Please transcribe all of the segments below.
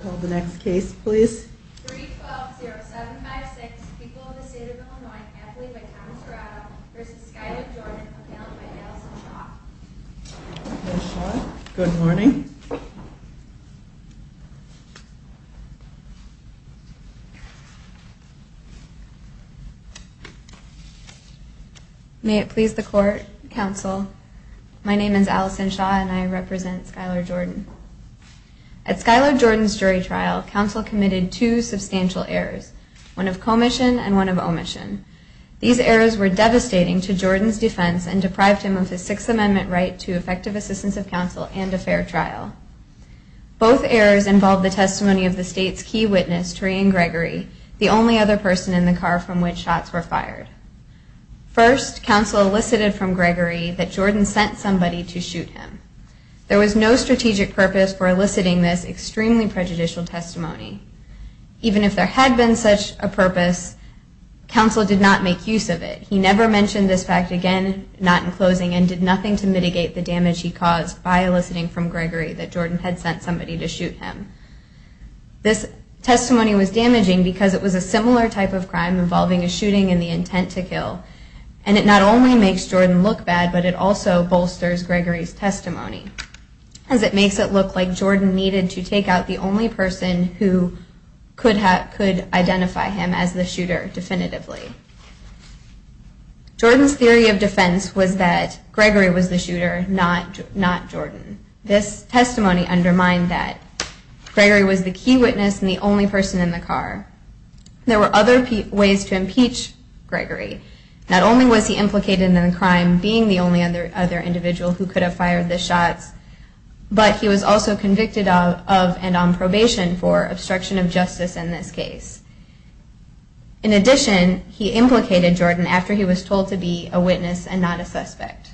The next case please. Good morning. May it please the court, counsel. My name is Allison Shaw and I represent Skylar Jordan's jury trial, counsel committed two substantial errors, one of commission and one of omission. These errors were devastating to Jordan's defense and deprived him of his Sixth Amendment right to effective assistance of counsel and a fair trial. Both errors involve the testimony of the state's key witness, Torian Gregory, the only other person in the car from which shots were fired. First, counsel elicited from Gregory that Jordan sent somebody to shoot him. There was no strategic purpose for eliciting this extremely prejudicial testimony. Even if there had been such a purpose, counsel did not make use of it. He never mentioned this fact again, not in closing, and did nothing to mitigate the damage he caused by eliciting from Gregory that Jordan had sent somebody to shoot him. This testimony was damaging because it was a similar type of crime involving a shooting in the intent to kill. And it not only makes Jordan look bad, but it also bolsters Gregory's testimony, as it makes it look like Jordan needed to take out the only person who could identify him as the shooter, definitively. Jordan's theory of defense was that Gregory was the shooter, not Jordan. This testimony undermined that Gregory was the key witness and the only person in the car. There were other ways to impeach Gregory. Not only was he implicated in the crime, being the only other individual who could have fired the shots, but he was also convicted of and on probation for obstruction of justice in this case. In addition, he implicated Jordan after he was told to be a witness and not a suspect.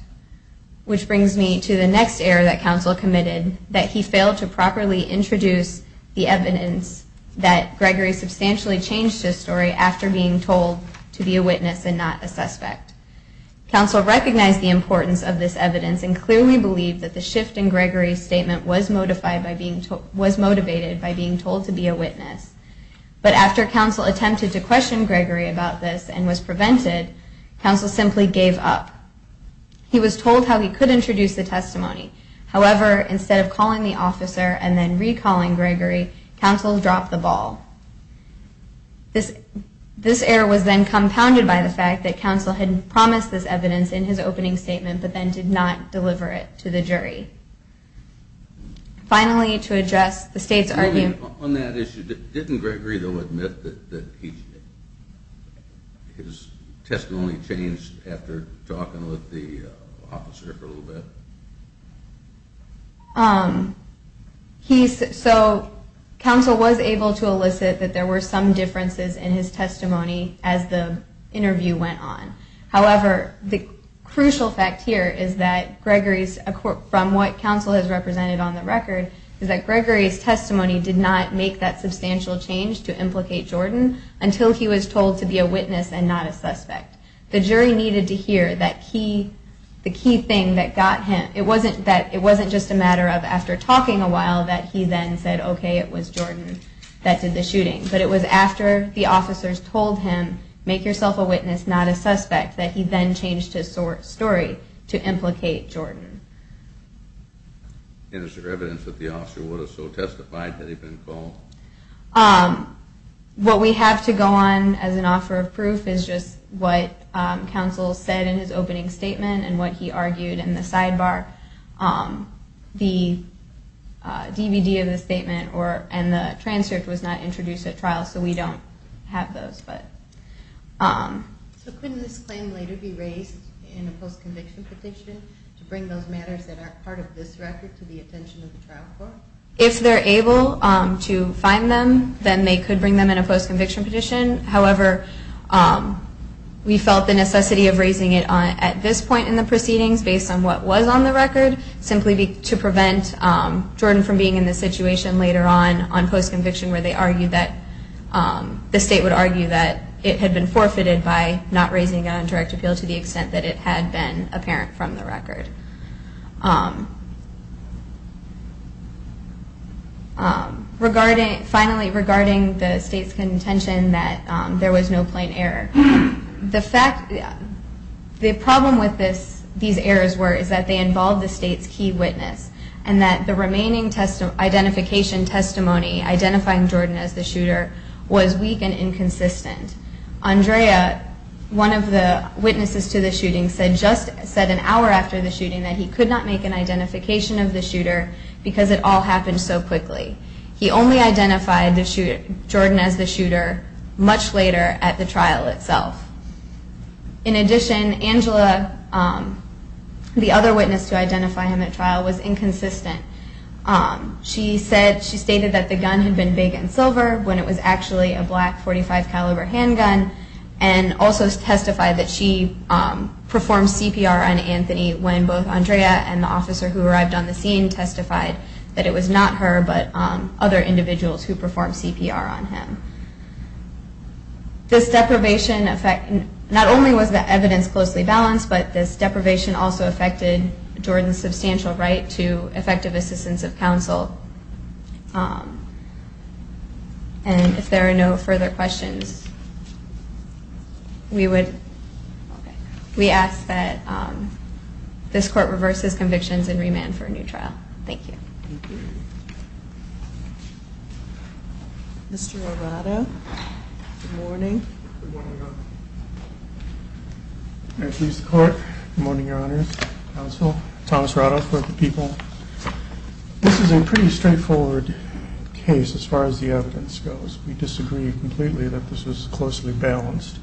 Which brings me to the next error that counsel committed, that he failed to properly introduce the evidence that he was a witness and not a suspect. Counsel recognized the importance of this evidence and clearly believed that the shift in Gregory's statement was motivated by being told to be a witness. But after counsel attempted to question Gregory about this and was prevented, counsel simply gave up. He was told how he could introduce the testimony. However, instead of calling the officer and then recalling Gregory, counsel dropped the ball. This error was then compounded by the fact that counsel had promised this evidence in his opening statement, but then did not deliver it to the jury. Finally, to address the state's argument... On that issue, didn't Gregory admit that his testimony changed after talking with the officer for a little bit? So, counsel was able to correct this error as the interview went on. However, the crucial fact here is that from what counsel has represented on the record, is that Gregory's testimony did not make that substantial change to implicate Jordan until he was told to be a witness and not a suspect. The jury needed to hear that the key thing that got him... It wasn't just a matter of after talking a while that he then said, okay, it was Jordan that did the shooting. But it was after the officers told him, make yourself a witness, not a suspect, that he then changed his story to implicate Jordan. And is there evidence that the officer would have so testified had he been called? What we have to go on as an offer of proof is just what counsel said in his opening statement and what he argued in the sidebar. The DVD of the statement and the transcript was not have those, but... So couldn't this claim later be raised in a post-conviction petition to bring those matters that aren't part of this record to the attention of the trial court? If they're able to find them, then they could bring them in a post-conviction petition. However, we felt the necessity of raising it at this point in the proceedings, based on what was on the record, simply to prevent Jordan from being in this situation later on, on which the state would argue that it had been forfeited by not raising an indirect appeal to the extent that it had been apparent from the record. Finally, regarding the state's contention that there was no plain error, the problem with these errors were that they involved the state's key witness and that the remaining identification testimony identifying Jordan as the shooter was weak and inconsistent. Andrea, one of the witnesses to the shooting, said just an hour after the shooting that he could not make an identification of the shooter because it all happened so quickly. He only identified Jordan as the shooter much later at the trial itself. In addition, Angela, the other witness to identify him at trial, was when it was actually a black .45 caliber handgun, and also testified that she performed CPR on Anthony when both Andrea and the officer who arrived on the scene testified that it was not her, but other individuals who performed CPR on him. This deprivation effect, not only was the evidence closely balanced, but this deprivation also affected Jordan's substantial right to effective assistance of counsel. If there are no further questions, we ask that this court reverses convictions and remand for a new trial. Thank you. Mr. Arado, good morning. Good morning, Your Honor. Counsel, Thomas Arado for the people. This is a pretty straightforward case as far as the evidence goes. We disagree completely that this was closely balanced.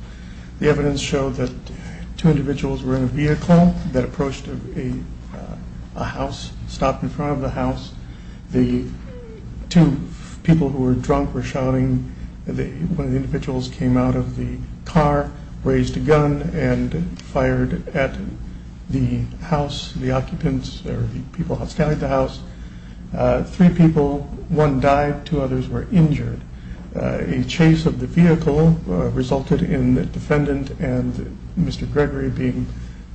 The evidence showed that two individuals were in a vehicle that approached a house, stopped in front of the house. The two people who were drunk were shouting. One of the individuals came out of the car, raised a gun, and shot the house, the occupants, the people standing at the house. Three people, one died, two others were injured. A chase of the vehicle resulted in the defendant and Mr. Gregory being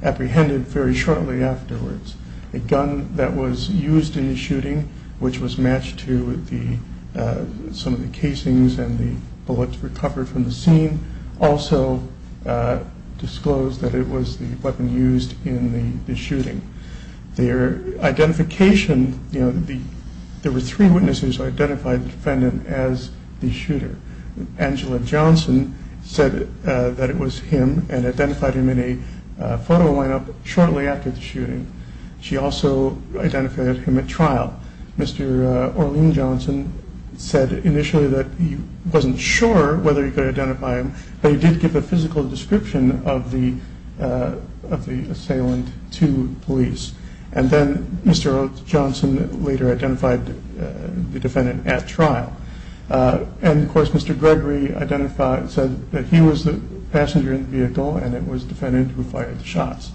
apprehended very shortly afterwards. A gun that was used in the shooting, which was matched to some of the casings and the bullets recovered from the scene, also disclosed that it was the weapon used in the shooting. Their identification, there were three witnesses who identified the defendant as the shooter. Angela Johnson said that it was him and identified him in a photo line-up shortly after the shooting. She also identified him at trial. Mr. Orlean Johnson said initially that he wasn't sure whether he could identify him, but he did give a physical description of the assailant to police. And then Mr. Johnson later identified the defendant at trial. And of course Mr. Gregory said that he was the passenger in the vehicle and it was the defendant who fired the shots.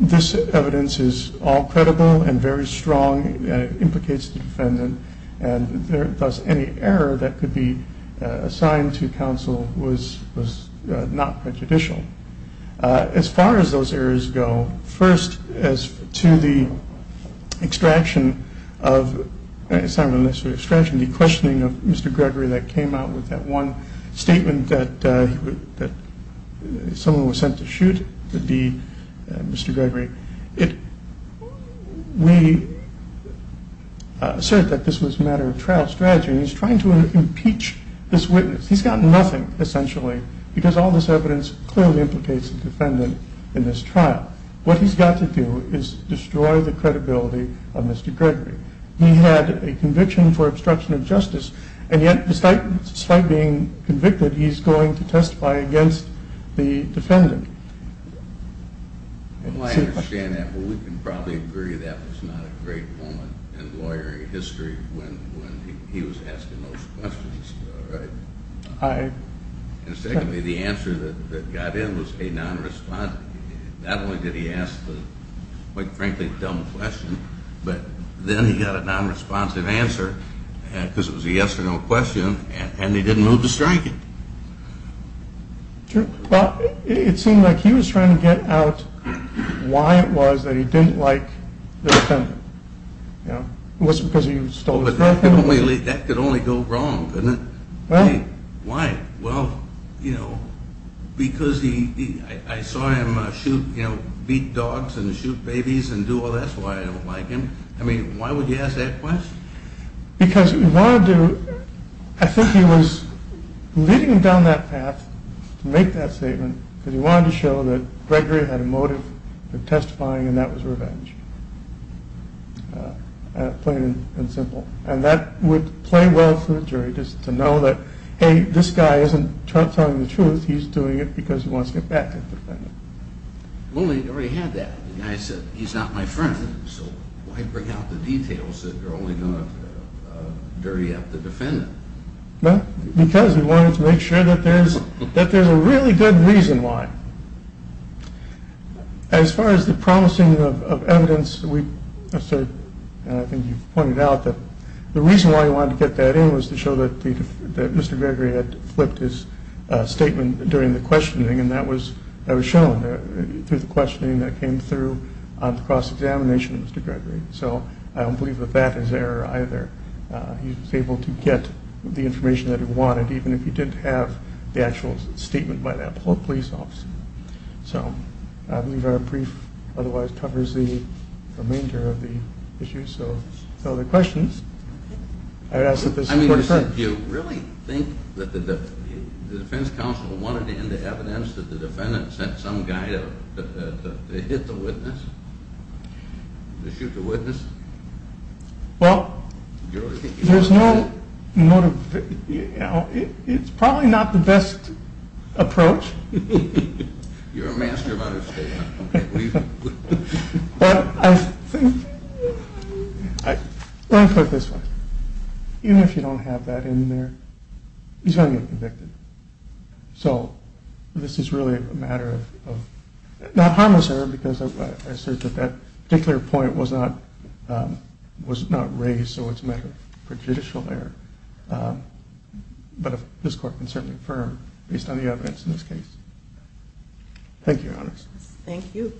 This evidence is all credible and very strong and implicates the defendant, and thus any error that occurs, those errors go first as to the extraction of Mr. Gregory that came out with that one statement that someone was sent to shoot would be Mr. Gregory. We assert that this was a matter of trial strategy and he's trying to impeach this witness. He's got nothing, essentially, because all this evidence clearly implicates the defendant in this trial. What he's got to do is destroy the credibility of Mr. Gregory. He had a conviction for obstruction of justice and yet despite being convicted, he's going to testify against the defendant. I understand that, but we can probably agree that was not a great moment in those questions. And secondly, the answer that got in was a non-responsive answer. Not only did he ask a quite frankly dumb question, but then he got a non-responsive answer because it was a yes or no question and he didn't move to strike it. It seemed like he was trying to get out why it was that he didn't like the defendant. It wasn't because he stole his girlfriend? That could only go wrong, couldn't it? Why? Well, because I saw him beat dogs and shoot babies and do all that, so I don't like him. I mean, why would he ask that question? Because I think he was leading down that path to make that statement because he wanted to show that Gregory had a motive for testifying and that was revenge. Plain and simple. And that would play well for the jury to know that hey, this guy isn't telling the truth, he's doing it because he wants to get back at the defendant. Well, he already had that. The guy said he's not my friend, so why bring out Because he wanted to make sure that there's a really good reason why. As far as the promising of evidence, I think you've pointed out that the reason why he wanted to get that in was to show that Mr. Gregory had flipped his statement during the questioning and that was shown through the questioning that came through on the cross-examination of Mr. Gregory. So I don't believe that that is error either. He was able to get the information that he wanted even if he didn't have the actual statement by that police officer. So I believe our brief otherwise covers the remainder of the issue. So if there are no other questions, I would ask that this court adjourn. I mean, do you really think that the defense counsel wanted to end the evidence that the defendant sent some guy to hit the witness, to shoot the witness? Well, it's probably not the best approach. You're a master of understatement. But I think, let me put it this way, even if you don't have that in there, he's going to get convicted. So this is really a matter of, not harmless error because I assert that that particular point was not raised, so it's a matter of prejudicial error. But this court can certainly affirm based on the evidence in this case. Thank you, Your Honors. Thank you.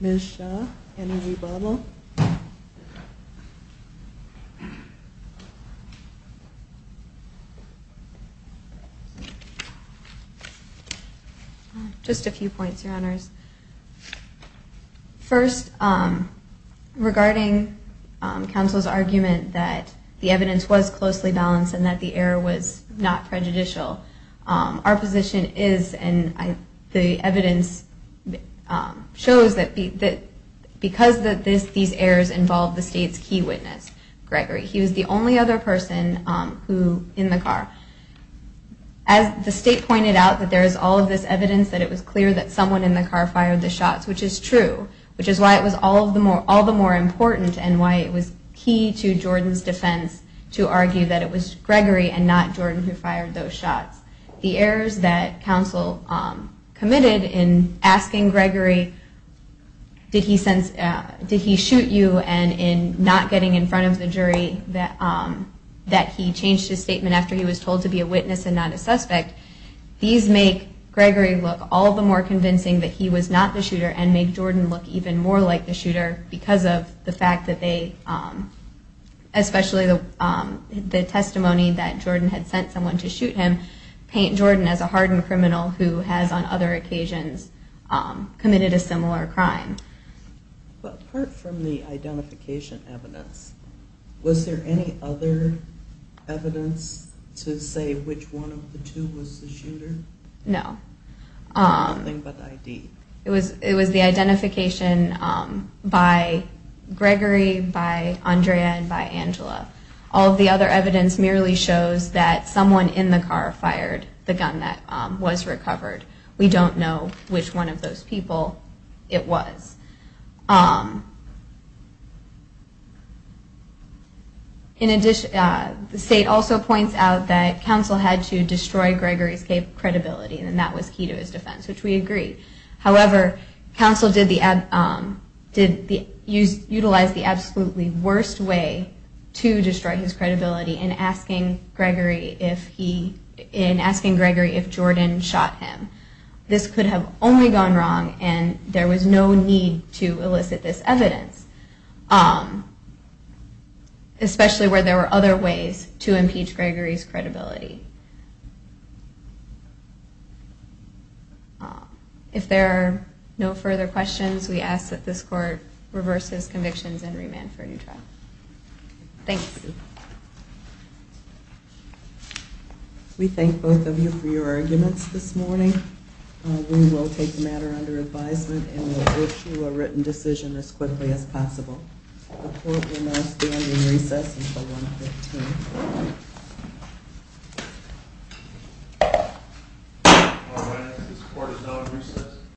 Ms. Shaw, energy bubble? Just a few points, Your Honors. First, regarding counsel's argument that the evidence was closely balanced and that the error was not prejudicial. Our position is, and the evidence shows that because of these errors involved the state's key witness, Gregory. He was the only other person in the car. As the state pointed out, there is all of this evidence that it was clear that someone in the car fired the shots, which is true, which is why it was all the more important and why it was key to Jordan's defense to argue that it was the errors that counsel committed in asking Gregory, did he shoot you? And in not getting in front of the jury that he changed his statement after he was told to be a witness and not a suspect. These make Gregory look all the more convincing that he was not the shooter and make Jordan look even more like the shooter because of the fact that they, especially the testimony that Jordan had sent someone to shoot him, paint Jordan as a hardened criminal who has on other occasions committed a similar crime. But apart from the identification evidence, was there any other evidence to say which one of the two was the shooter? No. Nothing but the ID? It was the identification by Gregory, by Andrea, and by Angela. All of the other evidence merely shows that someone in the car fired the gun that was recovered. We don't know which one of those people it was. In addition, the state also points out that counsel had to destroy Gregory's credibility and that was key to his defense, which we agree. However, counsel did utilize the absolutely worst way to destroy his credibility in asking Gregory if Jordan shot him. This could have only gone wrong and there was no need to elicit this evidence, especially where there were other ways to impeach Gregory's credibility. If there are no further questions, we ask that this court reverse its convictions and remand for a new trial. Thanks. We thank both of you for your arguments this morning. We will take the matter under advisement and will issue a written decision as quickly as possible. The court will now stand in recess until 1 p.m. This court is now in recess.